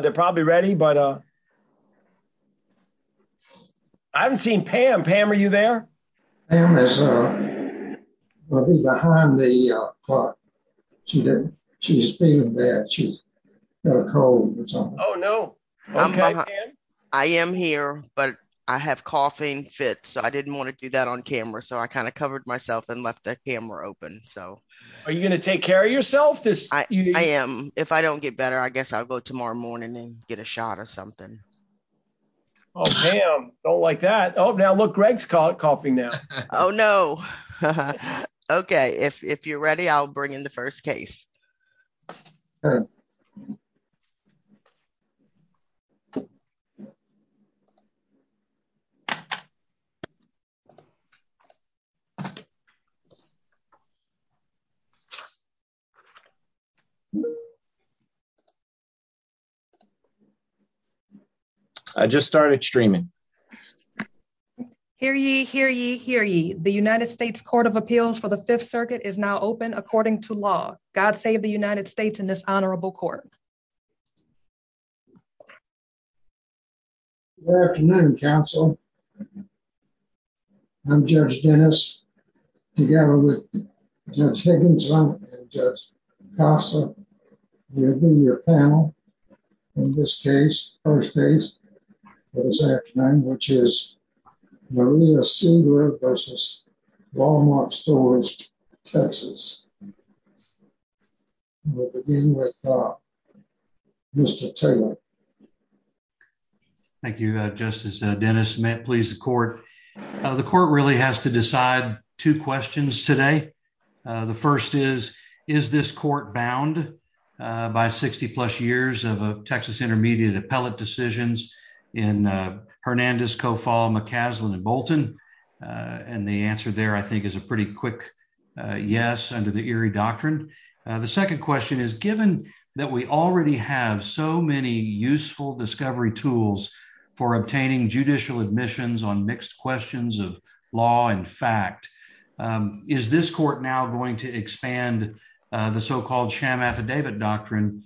They're probably ready but uh I haven't seen Pam. Pam are you there? Pam is uh behind the uh clock. She didn't she's feeling bad. She's got a cold or something. Oh no. Okay. I am here but I have coughing fits so I didn't want to do that on camera so I kind of covered myself and left that camera open so. Are you going to take care of yourself? I am. If I don't get better I guess I'll go tomorrow morning and get a shot or something. Oh Pam. Don't like that. Oh now look Greg's coughing now. Oh no. Okay. If you're ready I'll bring in the first case. I just started streaming. Hear ye, hear ye, hear ye. The United States Court of Appeals for the Fifth Circuit is now open according to law. God save the United States in this honorable court. Good afternoon counsel. I'm Judge Dennis together with Judge Higginson and Judge Casa. We'll be your panel in this case first case for this afternoon which is Maria Singer versus Walmart Stores TX. We'll begin with uh Mr. Taylor. Thank you uh Justice Dennis. May it please the court. The court really has to decide two questions today. The first is is this court bound by 60 plus years of Texas Intermediate Appellate decisions in Hernandez, Cofall, McCaslin and Bolton? And the answer there I think is a pretty quick yes under the Erie Doctrine. The second question is given that we already have so many useful discovery tools for obtaining judicial admissions on mixed questions of fact. Is this court now going to expand the so-called sham affidavit doctrine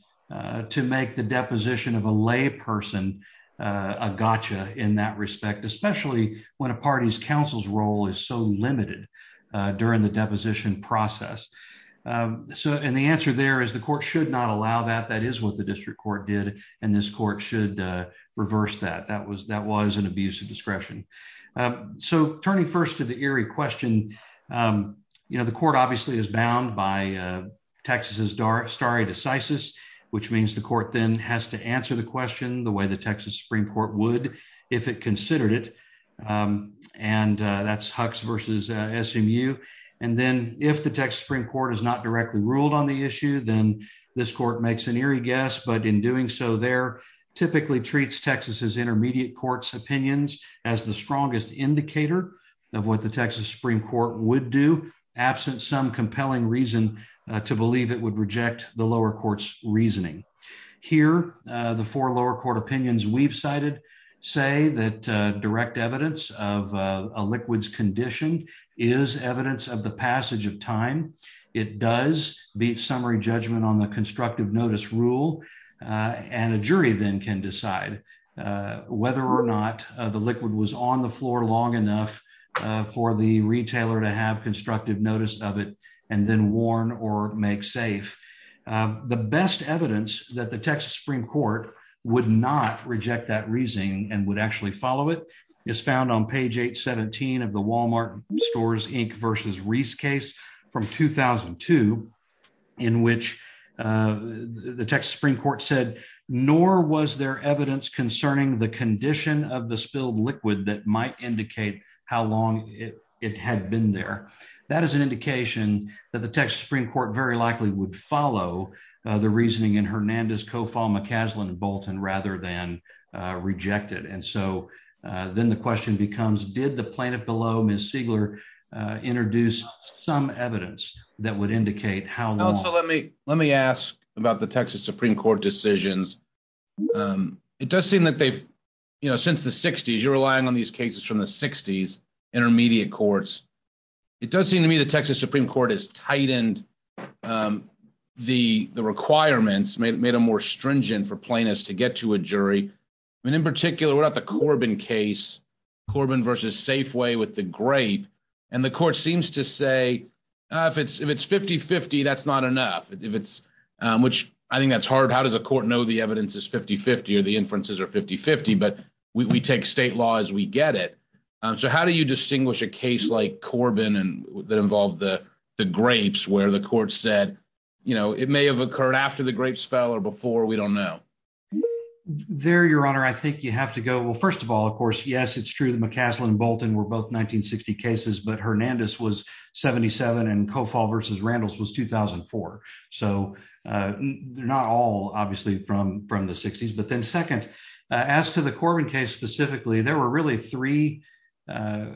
to make the deposition of a lay person a gotcha in that respect especially when a party's counsel's role is so limited during the deposition process. So and the answer there is the court should not allow that. That is what the district court did and this court should reverse that. That was that first to the Erie question. You know the court obviously is bound by Texas' stare decisis which means the court then has to answer the question the way the Texas Supreme Court would if it considered it and that's Hux versus SMU. And then if the Texas Supreme Court has not directly ruled on the issue then this court makes an Erie guess but in doing so there typically treats Texas' intermediate court's opinions as the strongest indicator of what the Texas Supreme Court would do absent some compelling reason to believe it would reject the lower court's reasoning. Here the four lower court opinions we've cited say that direct evidence of a liquids condition is evidence of the passage of time. It does beat summary judgment on the constructive notice rule and a jury then can decide whether or not the liquid was on the floor long enough for the retailer to have constructive notice of it and then warn or make safe. The best evidence that the Texas Supreme Court would not reject that reasoning and would actually follow it is found on page 817 of the Walmart Stores Inc versus Reese case from 2002 in which uh the Texas Supreme Court said nor was there evidence concerning the condition of the spilled liquid that might indicate how long it had been there. That is an indication that the Texas Supreme Court very likely would follow the reasoning in Hernandez, Kofall, McCaslin, and Bolton rather than uh reject it and so uh then the question becomes did the plaintiff below Ms. Siegler introduce some evidence that would indicate how long. So let me let me ask about the Texas Supreme Court decisions. Um it does seem that they've you know since the 60s you're relying on these cases from the 60s intermediate courts. It does seem to me the Texas Supreme Court has tightened um the the requirements made made them more stringent for plaintiffs to get to a jury and in particular what about the Corbin case Corbin versus Safeway with the grape and the court seems to say uh if it's if it's 50-50 that's not enough if it's um which I think that's hard how does a court know the evidence is 50-50 or the inferences are 50-50 but we take state law as we get it um so how do you distinguish a case like Corbin and that involved the the grapes where the court said you know it may have occurred after the grapes fell or before we don't know there your honor I think you have to go well first of all of course yes it's true the McCaslin Bolton were both 1960 cases but Hernandez was 77 and Cofall versus Randles was 2004 so uh they're not all obviously from from the 60s but then second as to the Corbin case specifically there were really three uh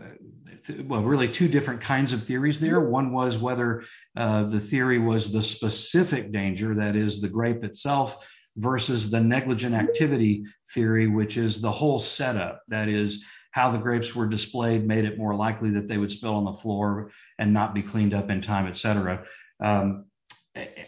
well really two different kinds of theories there one was whether uh the theory was the specific danger that is the grape itself versus the negligent activity theory which is the whole setup that is how the grapes were displayed made it more likely that they would spill on the floor and not be cleaned up in time etc um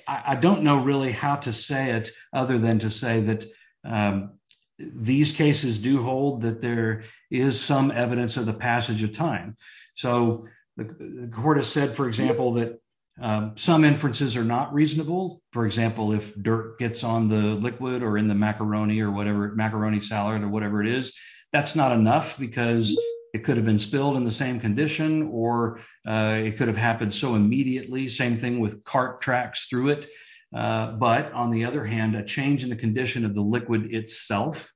I don't know really how to say it other than to say that um these cases do hold that there is some evidence of the passage of time so the court has said for example that um some inferences are not reasonable for example if dirt gets on the liquid or in the macaroni or whatever macaroni salad or whatever it is that's not enough because it could have been spilled in the same condition or uh it could have happened so immediately same thing with cart tracks through it uh but on the other hand a change in the condition of the liquid itself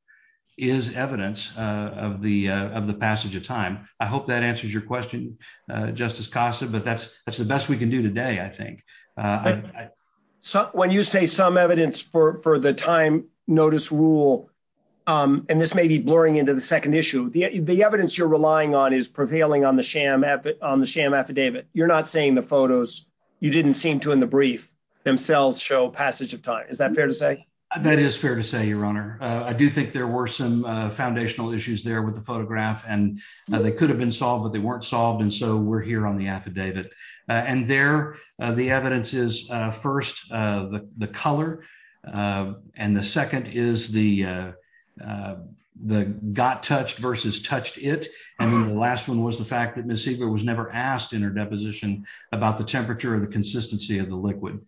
is evidence uh of the uh of the passage of time I hope that answers your question uh justice costa but that's that's the best we can do today I think so when you say some evidence for for the time notice rule um and this may be blurring into the second issue the the evidence you're relying on is prevailing on the sham on the sham affidavit you're not saying the photos you didn't seem to in the brief themselves show passage of time is that fair to say that is fair to say your honor I do think there were some uh foundational issues there with the photograph and they could have been solved but they weren't solved and so we're here on the affidavit and there the evidence is uh first uh the the color uh and the second is the uh the got touched versus touched it and then the last one was the fact that ms siegel was never asked in her deposition about the temperature of the consistency of the liquid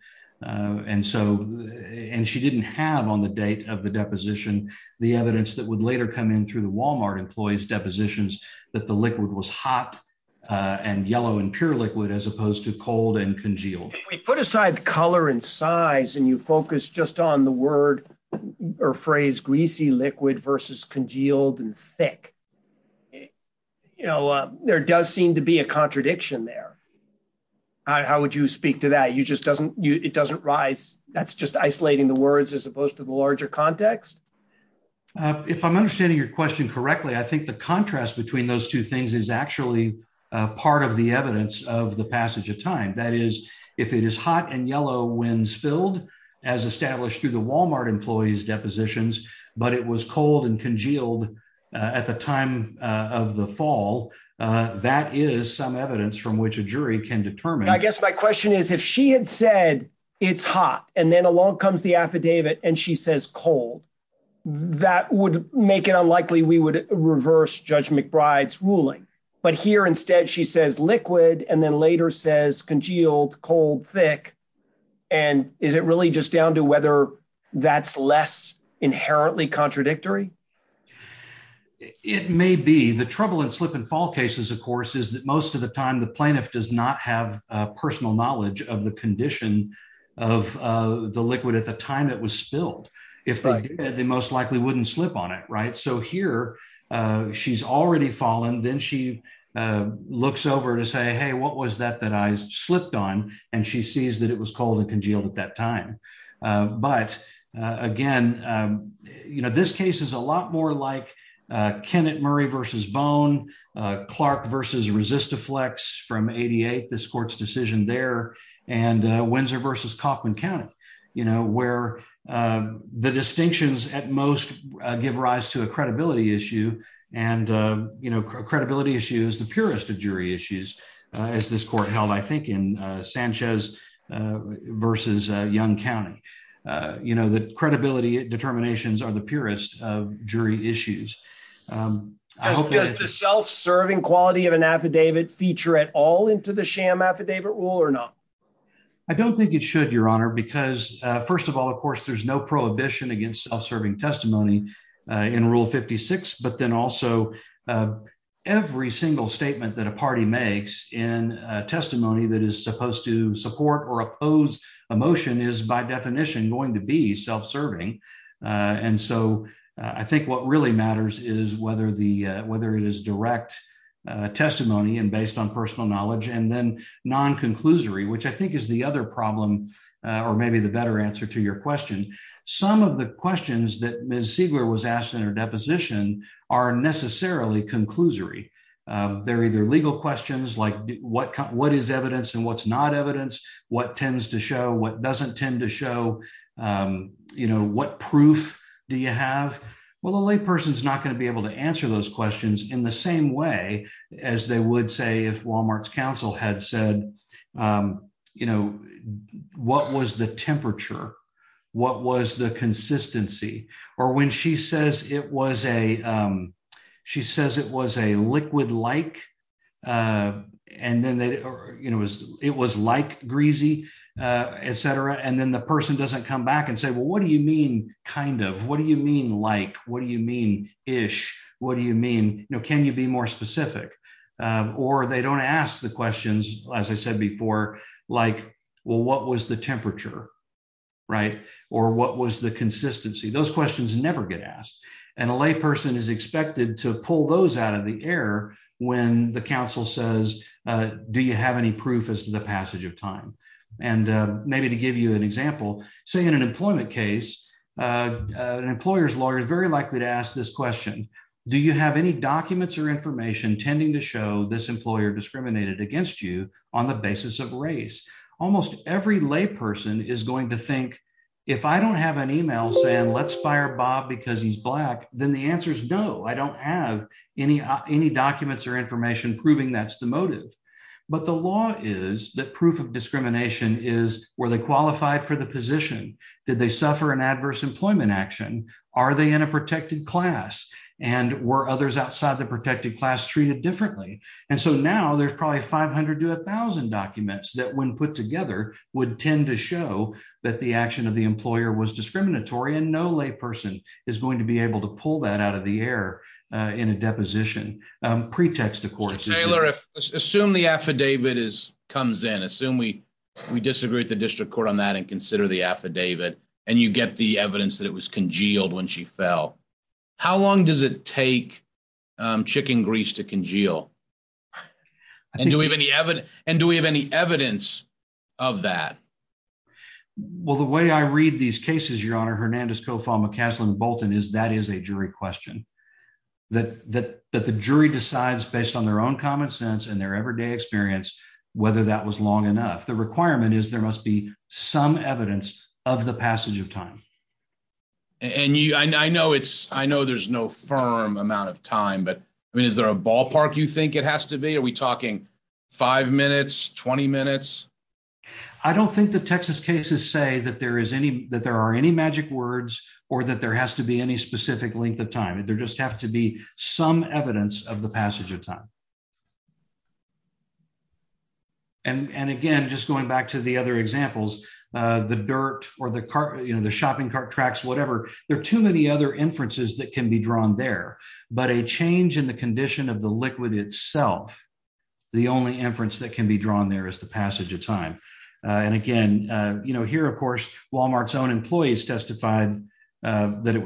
uh and so and she didn't have on the date of the deposition the evidence that would later come in through the employees depositions that the liquid was hot uh and yellow and pure liquid as opposed to cold and congealed we put aside the color and size and you focus just on the word or phrase greasy liquid versus congealed and thick you know there does seem to be a contradiction there how would you speak to that you just doesn't you it doesn't rise that's just isolating the words as opposed to the larger context if i'm understanding your question correctly i think the contrast between those two things is actually part of the evidence of the passage of time that is if it is hot and yellow when spilled as established through the walmart employees depositions but it was cold and congealed at the time of the fall that is some evidence from which a jury can determine i guess my question is if she had said it's hot and then along comes the affidavit and she says cold that would make it unlikely we would reverse judge mcbride's ruling but here instead she says liquid and then later says congealed cold thick and is it really just down to whether that's less inherently contradictory it may be the trouble in slip and fall cases of course is most of the time the plaintiff does not have personal knowledge of the condition of the liquid at the time it was spilled if they most likely wouldn't slip on it right so here she's already fallen then she looks over to say hey what was that that i slipped on and she sees that it was cold and congealed at that time but again you know this case is a lot more like kennett murray versus bone uh clark versus resistaflex from 88 this court's decision there and uh windsor versus coffman county you know where uh the distinctions at most give rise to a credibility issue and uh you know credibility issue is the purest of jury issues as this court held i think in uh sanchez uh versus uh young county uh you know the credibility determinations are the purest of jury issues um just the self-serving quality of an affidavit feature at all into the sham affidavit rule or not i don't think it should your honor because uh first of all of course there's no prohibition against self-serving testimony in rule 56 but then also every single statement that a party makes in a testimony that is supposed to support or oppose a motion is by i think what really matters is whether the whether it is direct testimony and based on personal knowledge and then non-conclusory which i think is the other problem or maybe the better answer to your question some of the questions that ms siegler was asked in her deposition are necessarily conclusory they're either legal questions like what what is evidence and what's not evidence what tends to show what doesn't tend to show um you know what proof do you have well the lay person is not going to be able to answer those questions in the same way as they would say if walmart's council had said um you know what was the temperature what was the consistency or when she says it was a um she says it was a liquid like uh and then they you know it was it was like greasy uh etc and then the person doesn't come back and say well what do you mean kind of what do you mean like what do you mean ish what do you mean you know can you be more specific or they don't ask the questions as i said before like well what was the temperature right or what was the consistency those questions never get asked and a lay person is expected to pull those out of the air when the council says uh do you have any proof as to the passage of time and maybe to give you an example say in an employment case uh an employer's lawyer is very likely to ask this question do you have any documents or information tending to show this employer discriminated against you on the basis of race almost every lay person is going to think if i don't have an email saying let's fire bob because he's black then the answer is no i don't have any any documents or information proving that's the motive but the law is that proof of discrimination is were they qualified for the position did they suffer an adverse employment action are they in a protected class and were others outside the protected class treated differently and so now there's probably 500 to a thousand documents that when put together would tend to show that the action of the employer was discriminatory and no lay person is going to be able to pull that out of the air uh in a deposition um pretext of course taylor if assume the affidavit is comes in assume we we disagree at the district court on that and consider the affidavit and you get the evidence that it was congealed when she fell how long does it take um chicken grease to congeal and do we have any evidence and do we have any evidence of that well the way i read these cases your honor hernandez kofal mccaslin bolton is that is a jury question that that that the jury decides based on their own common sense and their everyday experience whether that was long enough the requirement is there must be some evidence of the passage of time and you i know it's i know there's no firm amount of time but i mean is there a ballpark you think it has to be are we talking five minutes 20 minutes i don't think the texas cases say that there is any that there are any magic words or that there has to be any specific length of time there just have to be some evidence of the passage of time and and again just going back to the other examples uh the dirt or the car you know the shopping cart tracks whatever there are too many other inferences that can be drawn there but a change in the condition of the liquid itself the only inference that can be drawn there is the passage of time and again uh you know here of course walmart's own employees testified uh that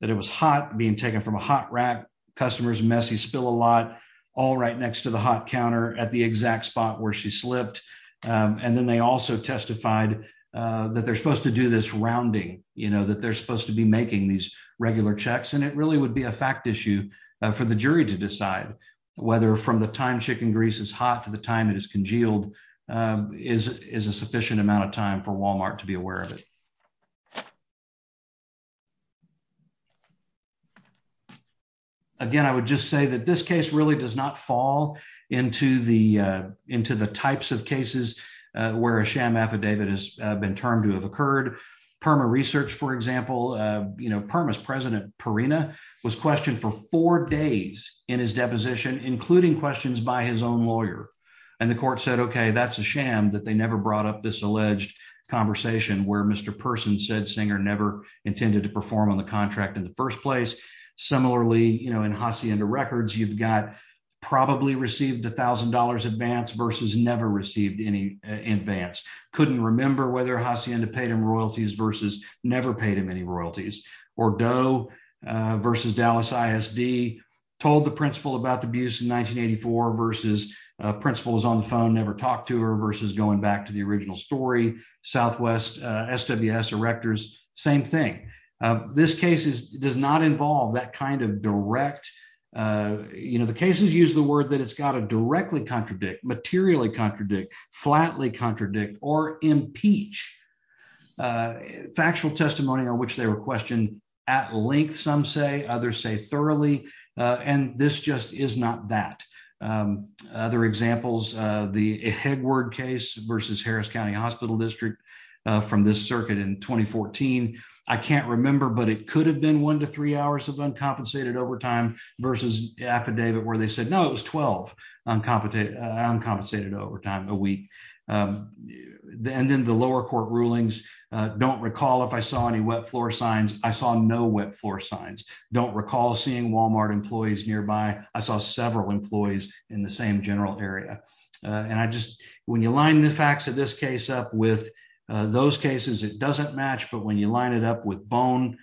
that it was hot being taken from a hot rack customers messy spill a lot all right next to the hot counter at the exact spot where she slipped and then they also testified uh that they're supposed to do this rounding you know that they're supposed to be making these regular checks and it really would be a fact issue for the jury to decide whether from the time chicken grease is hot to the time it is congealed is is a sufficient amount of time for walmart to be aware of it again i would just say that this case really does not fall into the uh into the types of cases where a sham affidavit has been termed to have occurred perma research for example uh you know permas president perina was questioned for four days in his deposition including questions by his own lawyer and the court said okay that's a sham that they never brought up this alleged conversation where mr person said singer never intended to perform on the contract in the first place similarly you know in hacienda records you've got probably received a thousand dollars advance versus never received any advance couldn't remember whether hacienda paid him royalties versus never paid him any royalties or doe versus dallas isd told the principal about the abuse in 1984 versus principal was on the phone never talked to her versus going back to the original story southwest sws erectors same thing this case does not involve that kind of direct you know the cases use the word that it's got to directly contradict materially contradict flatly contradict or impeach factual testimony on which they were questioned at length some say others say thoroughly uh and this just is not that um other examples uh the hegward case versus harris county hospital district uh from this circuit in 2014 i can't remember but it could have been one to three hours of uncompensated overtime versus affidavit where they said no it was 12 uncompetent uncompensated overtime a week um and then the lower court don't recall if i saw any wet floor signs i saw no wet floor signs don't recall seeing walmart employees nearby i saw several employees in the same general area and i just when you line the facts of this case up with those cases it doesn't match but when you line it up with bone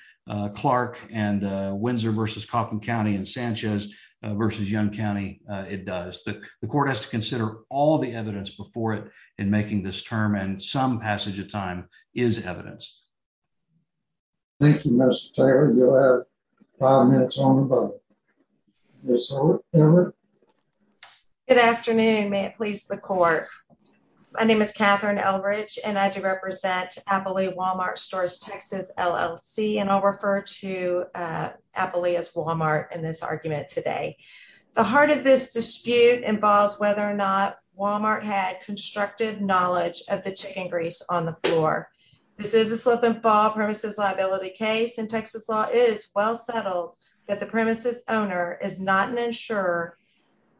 clark and windsor versus coffin county and sanchez versus young county it does the court has to consider all the evidence before it in making this term and some passage of time is evidence thank you mr taylor you'll have five minutes on the boat good afternoon may it please the court my name is katherine elbridge and i do represent abily walmart stores texas llc and i'll refer to uh abily as walmart in this argument today the heart of this dispute involves whether or not walmart had constructive knowledge of the chicken grease on the floor this is a slip and fall premises liability case in texas law is well settled that the premises owner is not an insurer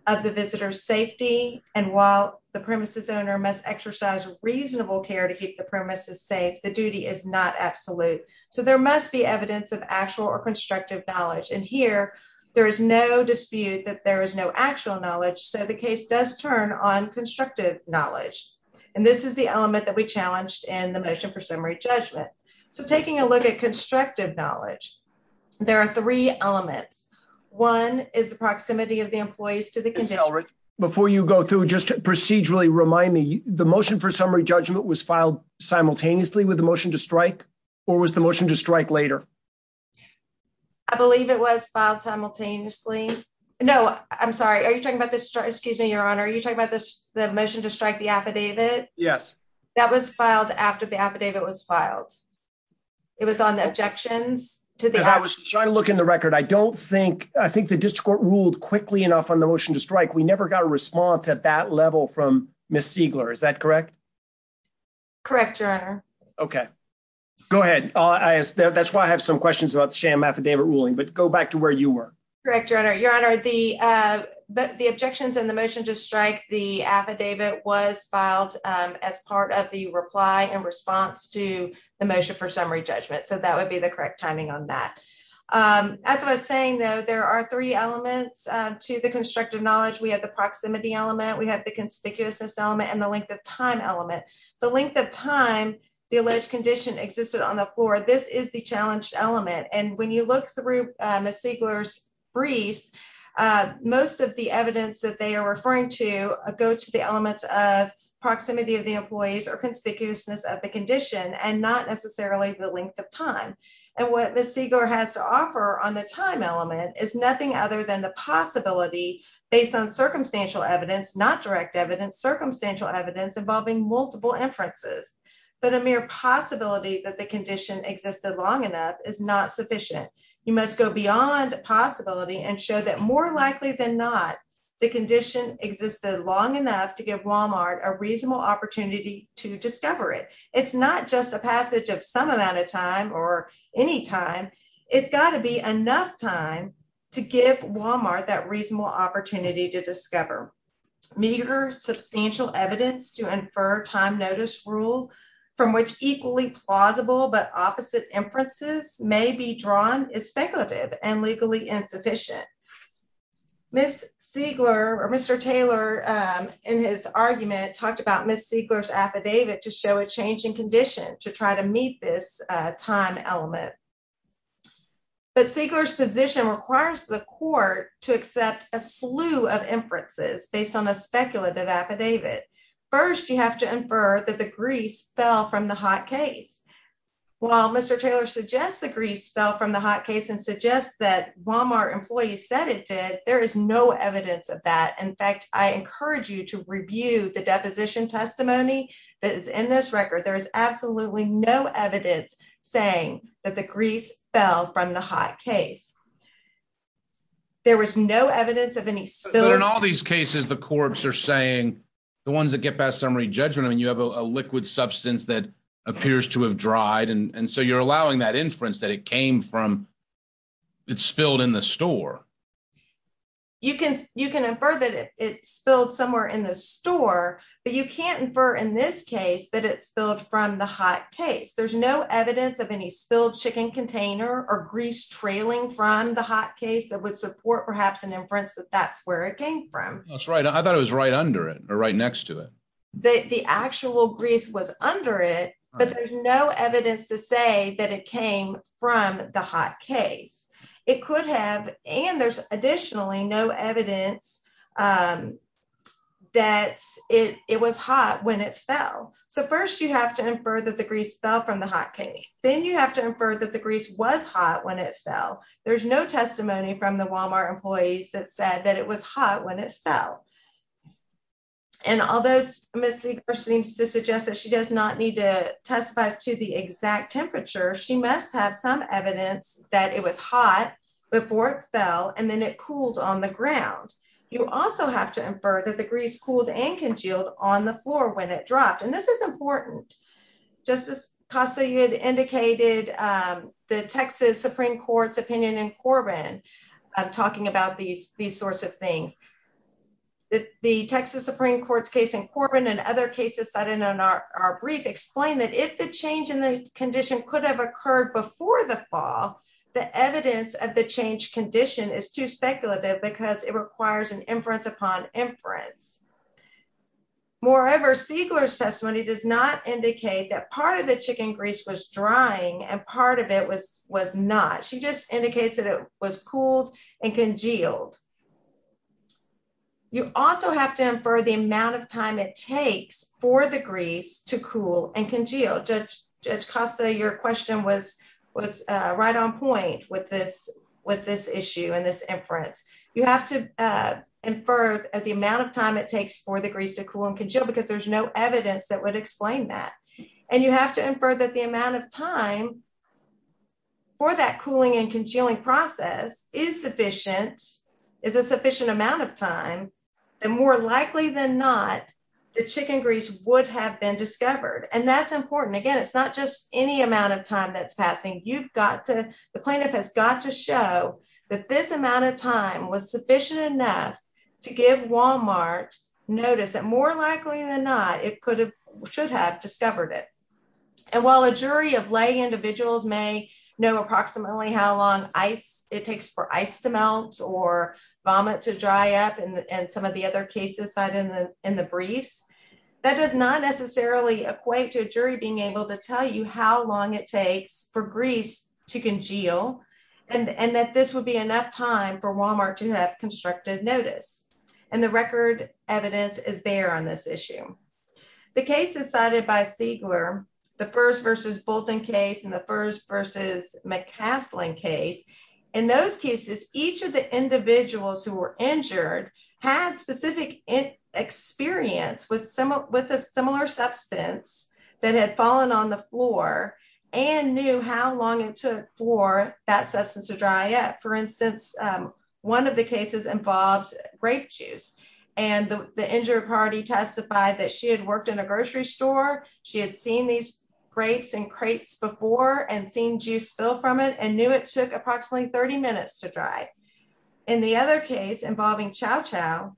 of the visitor's safety and while the premises owner must exercise reasonable care to keep the premises safe the duty is not absolute so there must be evidence of actual or constructive knowledge and here there is no dispute that there is no actual knowledge so the case does turn on constructive knowledge and this is the element that we challenged in the motion for summary judgment so taking a look at constructive knowledge there are three elements one is the proximity of the employees to the condition before you go through just procedurally remind me the motion for summary motion to strike later i believe it was filed simultaneously no i'm sorry are you talking about this excuse me your honor are you talking about this the motion to strike the affidavit yes that was filed after the affidavit was filed it was on the objections to the i was trying to look in the record i don't think i think the district court ruled quickly enough on the motion to strike we never got a response at that level from miss siegler is that correct correct your honor okay go ahead i'll ask that's why i have some questions about the sham affidavit ruling but go back to where you were correct your honor your honor the uh but the objections and the motion to strike the affidavit was filed um as part of the reply in response to the motion for summary judgment so that would be the correct timing on that um as i was saying though there are three elements to the constructive knowledge we have the proximity element we have the conspicuousness and the length of time element the length of time the alleged condition existed on the floor this is the challenged element and when you look through miss siegler's briefs uh most of the evidence that they are referring to go to the elements of proximity of the employees or conspicuousness of the condition and not necessarily the length of time and what miss siegler has to offer on the time element is nothing other than the possibility based on circumstantial evidence not direct evidence circumstantial evidence involving multiple inferences but a mere possibility that the condition existed long enough is not sufficient you must go beyond possibility and show that more likely than not the condition existed long enough to give walmart a reasonable opportunity to discover it it's not just a passage of some amount of time or any time it's got to be enough time to give walmart that reasonable opportunity to discover meager substantial evidence to infer time notice rule from which equally plausible but opposite inferences may be drawn is speculative and legally insufficient miss siegler or mr taylor in his argument talked about miss siegler's affidavit to show a changing condition to try meet this time element but siegler's position requires the court to accept a slew of inferences based on a speculative affidavit first you have to infer that the grease fell from the hot case while mr taylor suggests the grease fell from the hot case and suggests that walmart employees said it did there is no evidence of that in fact i encourage you to review the deposition testimony that is in this record there is absolutely no evidence saying that the grease fell from the hot case there was no evidence of any so in all these cases the corps are saying the ones that get past summary judgment i mean you have a liquid substance that appears to have dried and so you're allowing that inference that it came from it spilled in the store you can you can infer that it spilled somewhere in the store but you can't infer in this case that it spilled from the hot case there's no evidence of any spilled chicken container or grease trailing from the hot case that would support perhaps an inference that that's where it came from that's right i thought it was right under it or right next to it that the actual grease was under it but there's no evidence to say that it came from the hot case it could have and there's additionally no evidence that it it was hot when it fell so first you have to infer that the grease fell from the hot case then you have to infer that the grease was hot when it fell there's no testimony from the walmart employees that said that it was hot when it fell and all those misleaders seems to suggest that she does not need to testify to the exact temperature she must have some evidence that it was hot before it fell and then it cooled on the ground you also have to infer that the grease cooled and congealed on the floor when it dropped and this is important justice costa you had indicated um the texas supreme court's opinion in corbin i'm talking about these these sorts of things that the texas supreme court's case in corbin and other cases cited in our brief explain that if the change in the condition could have occurred before the fall the evidence of the change condition is too speculative because it requires an inference upon inference moreover siegler's testimony does not indicate that part of the chicken grease was drying and part of it was was not she just indicates that it was cooled and congealed you also have to infer the amount of time it takes for the grease to cool and congeal judge costa your question was was right on point with this with this issue and this inference you have to infer at the amount of time it takes for the grease to cool and congeal because there's no evidence that would explain that and you have to infer that the amount of time for that cooling and congealing process is sufficient is a sufficient amount of time and more likely than not the chicken grease would have been discovered and that's important again it's not just any amount of time that's passing you've got to the plaintiff has got to show that this amount of time was sufficient enough to give walmart notice that more likely than not it could have should have discovered it and while a jury of lay individuals may know approximately how long ice it takes for ice to melt or vomit to dry up and and some of the other cases cited in the in the briefs that does not necessarily equate to a jury being able to tell you how long it takes for grease to congeal and and that this would be enough time for walmart to have constructive notice and the record evidence is bare on this issue the case is cited by siegler the first versus bolton case in the first versus mccaslin case in those cases each of the individuals who were injured had specific experience with some with a similar substance that had fallen on the floor and knew how long it took for that substance to dry up for instance um one of the cases involved grape juice and the injured party testified that she had worked in a grocery store she had seen these grapes and crates before and seen juice spill from it and knew it took approximately 30 minutes to dry in the other case involving chow chow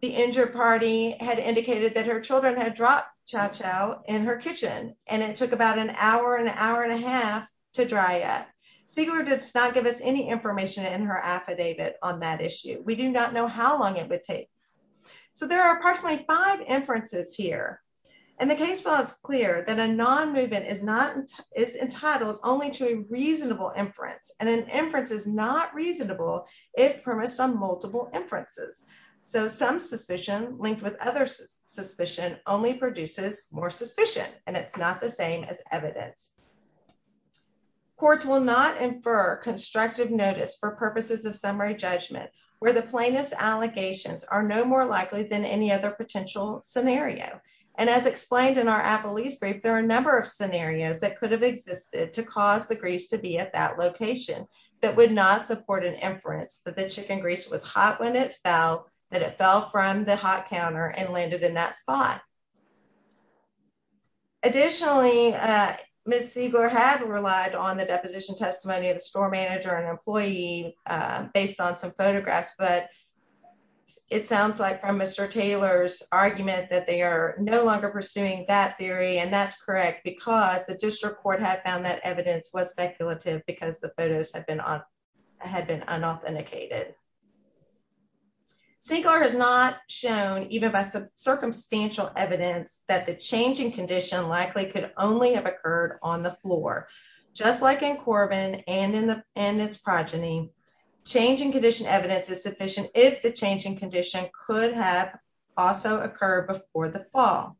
the injured party had indicated that her children had dropped chow chow in her kitchen and it took about an hour an hour and a half to dry yet siegler does not give us any information in her affidavit on that issue we do not know how long it would take so there are approximately five inferences here and the case law is clear that a non-movement is not is entitled only to a reasonable inference and an inference is not reasonable if promised on multiple inferences so some suspicion linked with other suspicion only produces more suspicion and it's not the same as evidence courts will not infer constructive notice for purposes of summary judgment where the plainest allegations are no more likely than any other potential scenario and as explained in our apple east grape there are a number of scenarios that could have existed to cause the grease to be at that location that would not support an inference that the chicken grease was hot when it fell that it fell from the hot counter and landed in that spot additionally uh miss siegler had relied on the deposition testimony of the store manager and but it sounds like from mr taylor's argument that they are no longer pursuing that theory and that's correct because the district court had found that evidence was speculative because the photos have been on had been unauthenticated siegler has not shown even by some circumstantial evidence that the changing condition likely could only have occurred on the floor just like in if the changing condition could have also occurred before the fall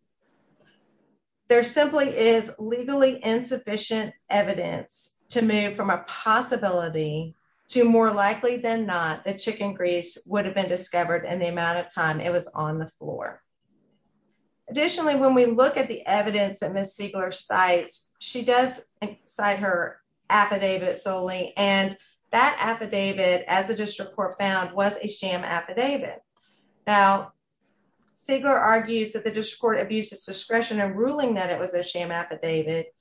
there simply is legally insufficient evidence to move from a possibility to more likely than not the chicken grease would have been discovered in the amount of time it was on the floor additionally when we look at the evidence that miss siegler cites she does cite her affidavit and that affidavit as the district court found was a sham affidavit now siegler argues that the district court abused its discretion in ruling that it was a sham affidavit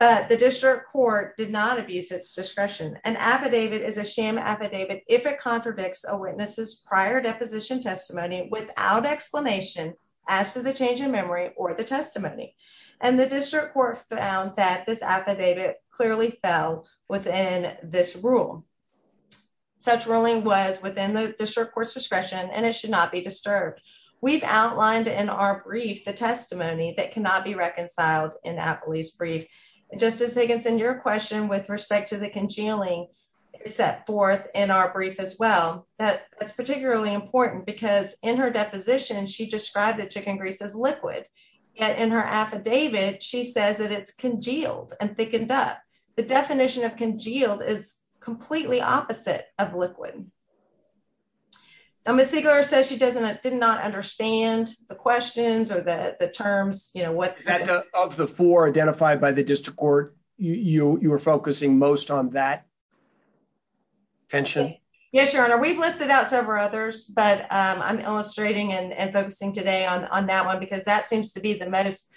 but the district court did not abuse its discretion an affidavit is a sham affidavit if it contradicts a witness's prior deposition testimony without explanation as to the change in memory or the testimony and the district court found that this affidavit clearly fell within this rule such ruling was within the district court's discretion and it should not be disturbed we've outlined in our brief the testimony that cannot be reconciled in appley's brief justice higginson your question with respect to the congealing set forth in our brief as well that that's particularly important because in her deposition she described the chicken as liquid yet in her affidavit she says that it's congealed and thickened up the definition of congealed is completely opposite of liquid now miss siegler says she doesn't did not understand the questions or the the terms you know what of the four identified by the district court you you were focusing most on that tension yes your honor we've listed out several others but i'm illustrating and focusing today on on that one because that seems to be the most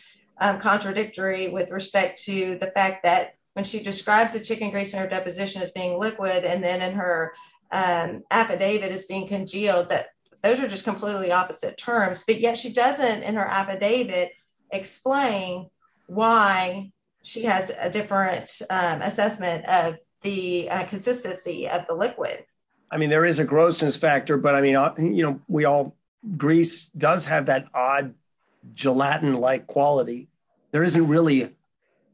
contradictory with respect to the fact that when she describes the chicken grease in her deposition as being liquid and then in her affidavit is being congealed that those are just completely opposite terms but yet she doesn't in her affidavit explain why she has a different assessment of the consistency of the liquid i mean there is a grossness factor but i mean you know we all grease does have that odd gelatin-like quality there isn't really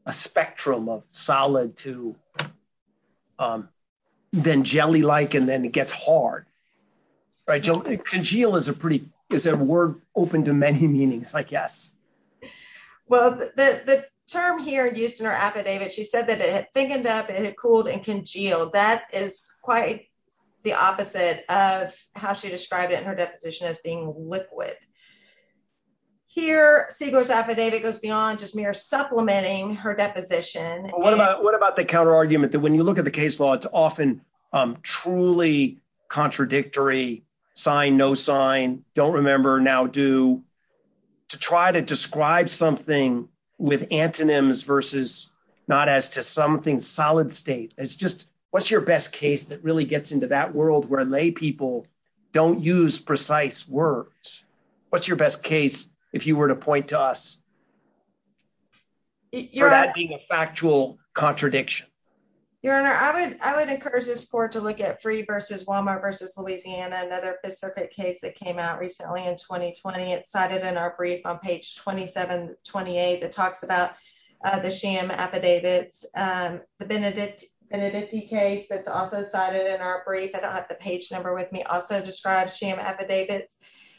a spectrum of solid to um then jelly-like and then it gets hard right congeal is a pretty is a word open to many meanings like yes well the the term here used in her affidavit she said that it thickened up it cooled and congealed that is quite the opposite of how she described it in her deposition as being liquid here seagull's affidavit goes beyond just mere supplementing her deposition what about what about the counter argument that when you look at the case law it's often um truly contradictory sign no sign don't remember now do to try to describe something with antonyms versus not as to something solid state it's just what's your best case that really gets into that world where lay people don't use precise words what's your best case if you were to point to us you're not being a factual contradiction your honor i would i would encourage this court to look at free versus walmart versus louisiana another specific case that came out recently in 2020 it's cited in our brief on page 27 28 that talks about uh the sham affidavits um the benedict benedict case that's also cited in our brief i don't have the page number with me also describes sham affidavits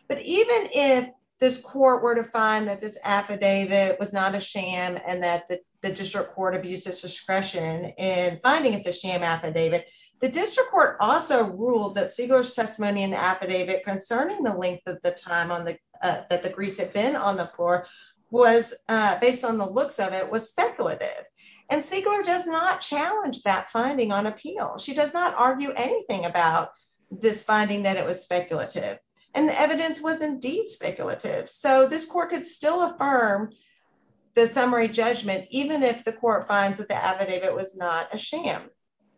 but even if this court were to find that this affidavit was not a sham and that the district court abused its discretion in finding it's a sham affidavit the district also ruled that siegler's testimony in the affidavit concerning the length of the time on the uh that the grease had been on the floor was uh based on the looks of it was speculative and siegler does not challenge that finding on appeal she does not argue anything about this finding that it was speculative and the evidence was indeed speculative so this court could still affirm the summary judgment even if the court finds that the affidavit was not a sham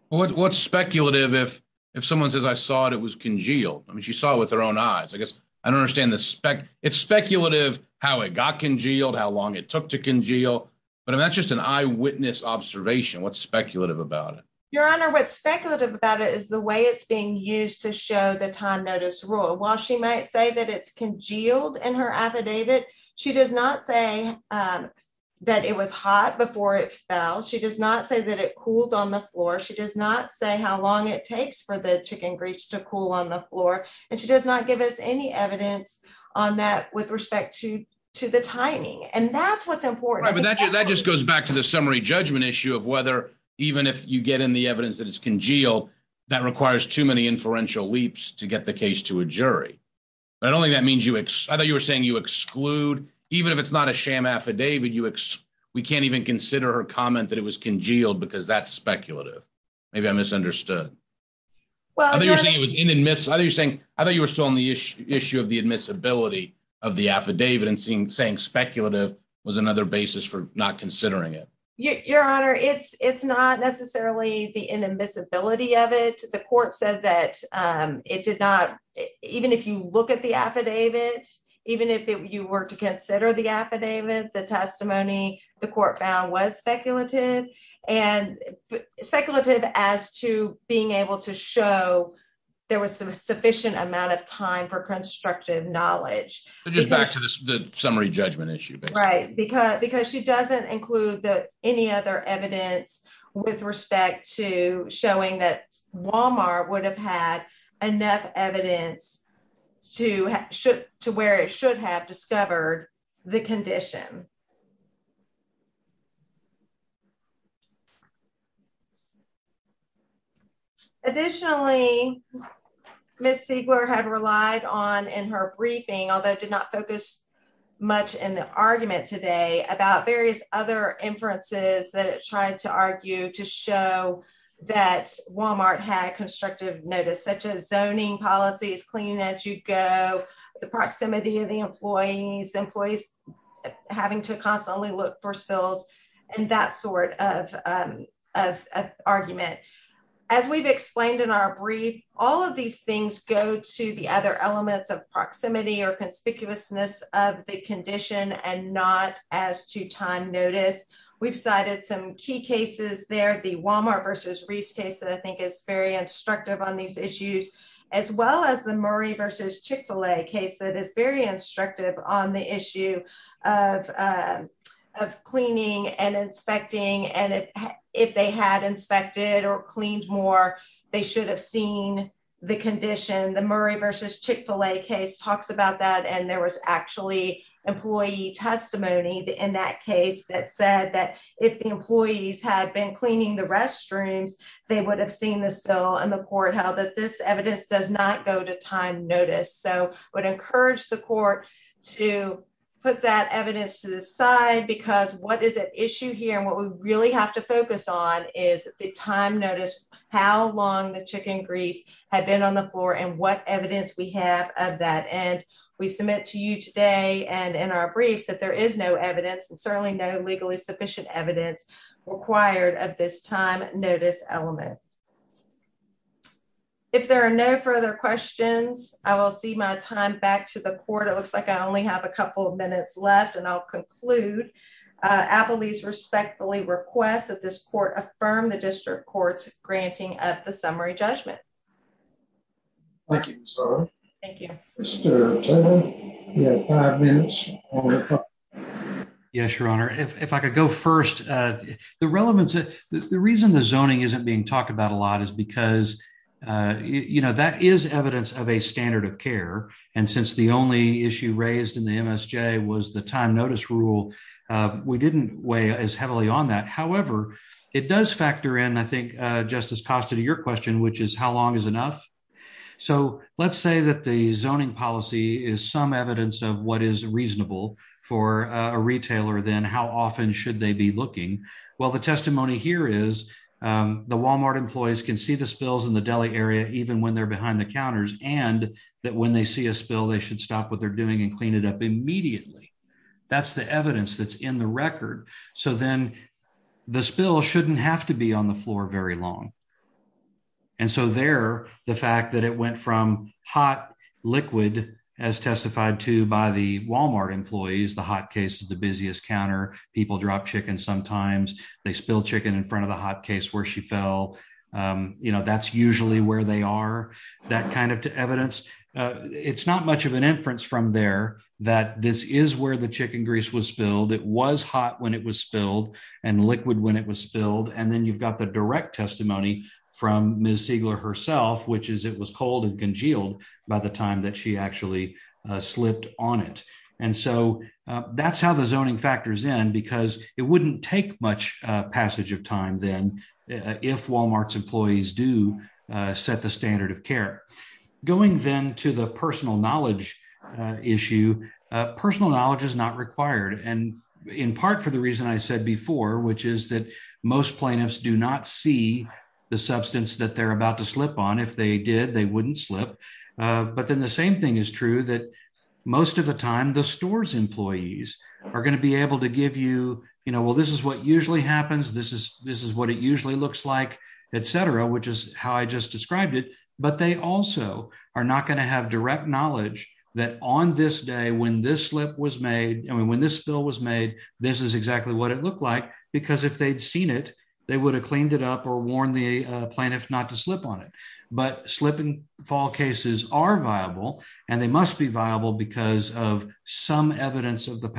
what's speculative if if someone says i saw it it was congealed i mean she saw with her own eyes i guess i don't understand the spec it's speculative how it got congealed how long it took to congeal but that's just an eyewitness observation what's speculative about it your honor what's speculative about it is the way it's being used to show the time notice rule while she might say that it's congealed in her affidavit she does not say um that it was hot before it fell she does not say that it cooled on the floor she does not say how long it takes for the chicken grease to cool on the floor and she does not give us any evidence on that with respect to to the timing and that's what's important but that just goes back to the summary judgment issue of whether even if you get in the evidence that it's congealed that requires too many inferential leaps to get the case to a jury but i don't think that means you ex i thought you were saying you exclude even if it's not a congealed because that's speculative maybe i misunderstood well i think you're saying i thought you were still on the issue issue of the admissibility of the affidavit and seeing saying speculative was another basis for not considering it your honor it's it's not necessarily the inadmissibility of it the court said that um it did not even if you look at the affidavit even if you were to consider the affidavit the testimony the court found was speculative and speculative as to being able to show there was a sufficient amount of time for constructive knowledge but just back to the summary judgment issue right because because she doesn't include the any other evidence with respect to showing that walmart would have had enough evidence to should to where it should have discovered the condition additionally miss siegler had relied on in her briefing although did not focus much in the argument today about various other inferences that it tried to argue to show that walmart had constructive notice such as zoning policies cleaning as you go the proximity of the employees employees having to constantly look for spills and that sort of um of argument as we've explained in our brief all of these things go to the other elements of proximity or conspicuousness of the condition and not as to time notice we've cited some key cases there the walmart versus reese case that i think is very instructive on these issues as well as the murray versus chick-fil-a case that is very instructive on the issue of um of cleaning and inspecting and if they had inspected or cleaned more they should have seen the condition the murray versus chick-fil-a case talks about that and there was actually employee testimony in that case that said that if the employees had been cleaning the restrooms they would have seen the spill and the court held that this evidence does not go to time notice so i would encourage the court to put that evidence to the side because what is at issue here and what we really have to focus on is the time notice how long the chicken grease had been on the floor and what evidence we have of that and we submit to you today and in our briefs that there is no evidence and certainly no legally sufficient evidence required of this time notice element if there are no further questions i will see my time back to the court it looks like i only have a couple of minutes left and i'll conclude uh abilities respectfully request that this court affirm the district courts granting at the summary judgment thank you thank you yes your honor if i could go first uh the relevance the reason the zoning isn't being talked about a lot is because uh you know that is evidence of a standard of care and since the only issue raised in the msj was the time notice rule uh we didn't weigh as heavily on that however it does factor in i think uh justice costa to your question which is how long is enough so let's say that the zoning policy is some evidence of what is reasonable for a retailer then how often should they be looking well the testimony here is the walmart employees can see the spills in the delhi area even when they're behind the counters and that when they see a spill they should stop what they're doing and clean it up immediately that's the evidence that's the record so then the spill shouldn't have to be on the floor very long and so there the fact that it went from hot liquid as testified to by the walmart employees the hot case is the busiest counter people drop chicken sometimes they spill chicken in front of the hot case where she fell um you know that's usually where they are that kind of evidence uh it's not much of an it was hot when it was spilled and liquid when it was spilled and then you've got the direct testimony from ms siegler herself which is it was cold and congealed by the time that she actually slipped on it and so that's how the zoning factors in because it wouldn't take much passage of time then if walmart's employees do set the standard of care going then to the personal knowledge issue personal knowledge is not required and in part for the reason i said before which is that most plaintiffs do not see the substance that they're about to slip on if they did they wouldn't slip uh but then the same thing is true that most of the time the stores employees are going to be able to give you you know well this is what usually happens this is this is what it usually looks like etc which is how i just described it but they also are not going to have direct knowledge that on this day when this slip was made i mean when this bill was made this is exactly what it looked like because if they'd seen it they would have cleaned it up or warned the plaintiff not to slip on it but slip and fall cases are viable and they must be viable because of some evidence of the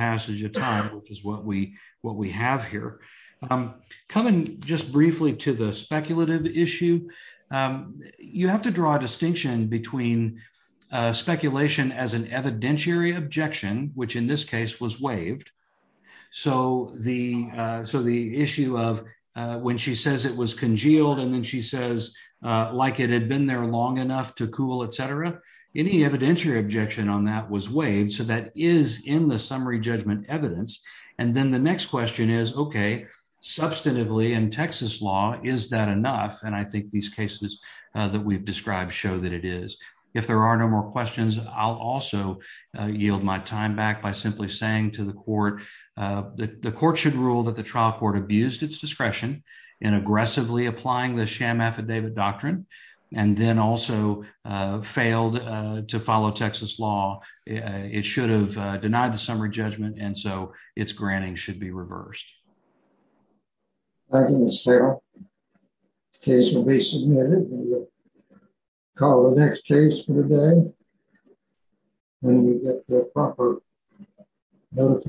issue um you have to draw a distinction between uh speculation as an evidentiary objection which in this case was waived so the uh so the issue of uh when she says it was congealed and then she says uh like it had been there long enough to cool etc any evidentiary objection on that was waived so that is in the summary judgment evidence and then the next question is okay substantively in texas is that enough and i think these cases that we've described show that it is if there are no more questions i'll also yield my time back by simply saying to the court that the court should rule that the trial court abused its discretion in aggressively applying the sham affidavit doctrine and then also failed to follow texas law it should have denied the summary judgment and so its granting should be reversed i can sell the case will be submitted call the next case for the day when we get the proper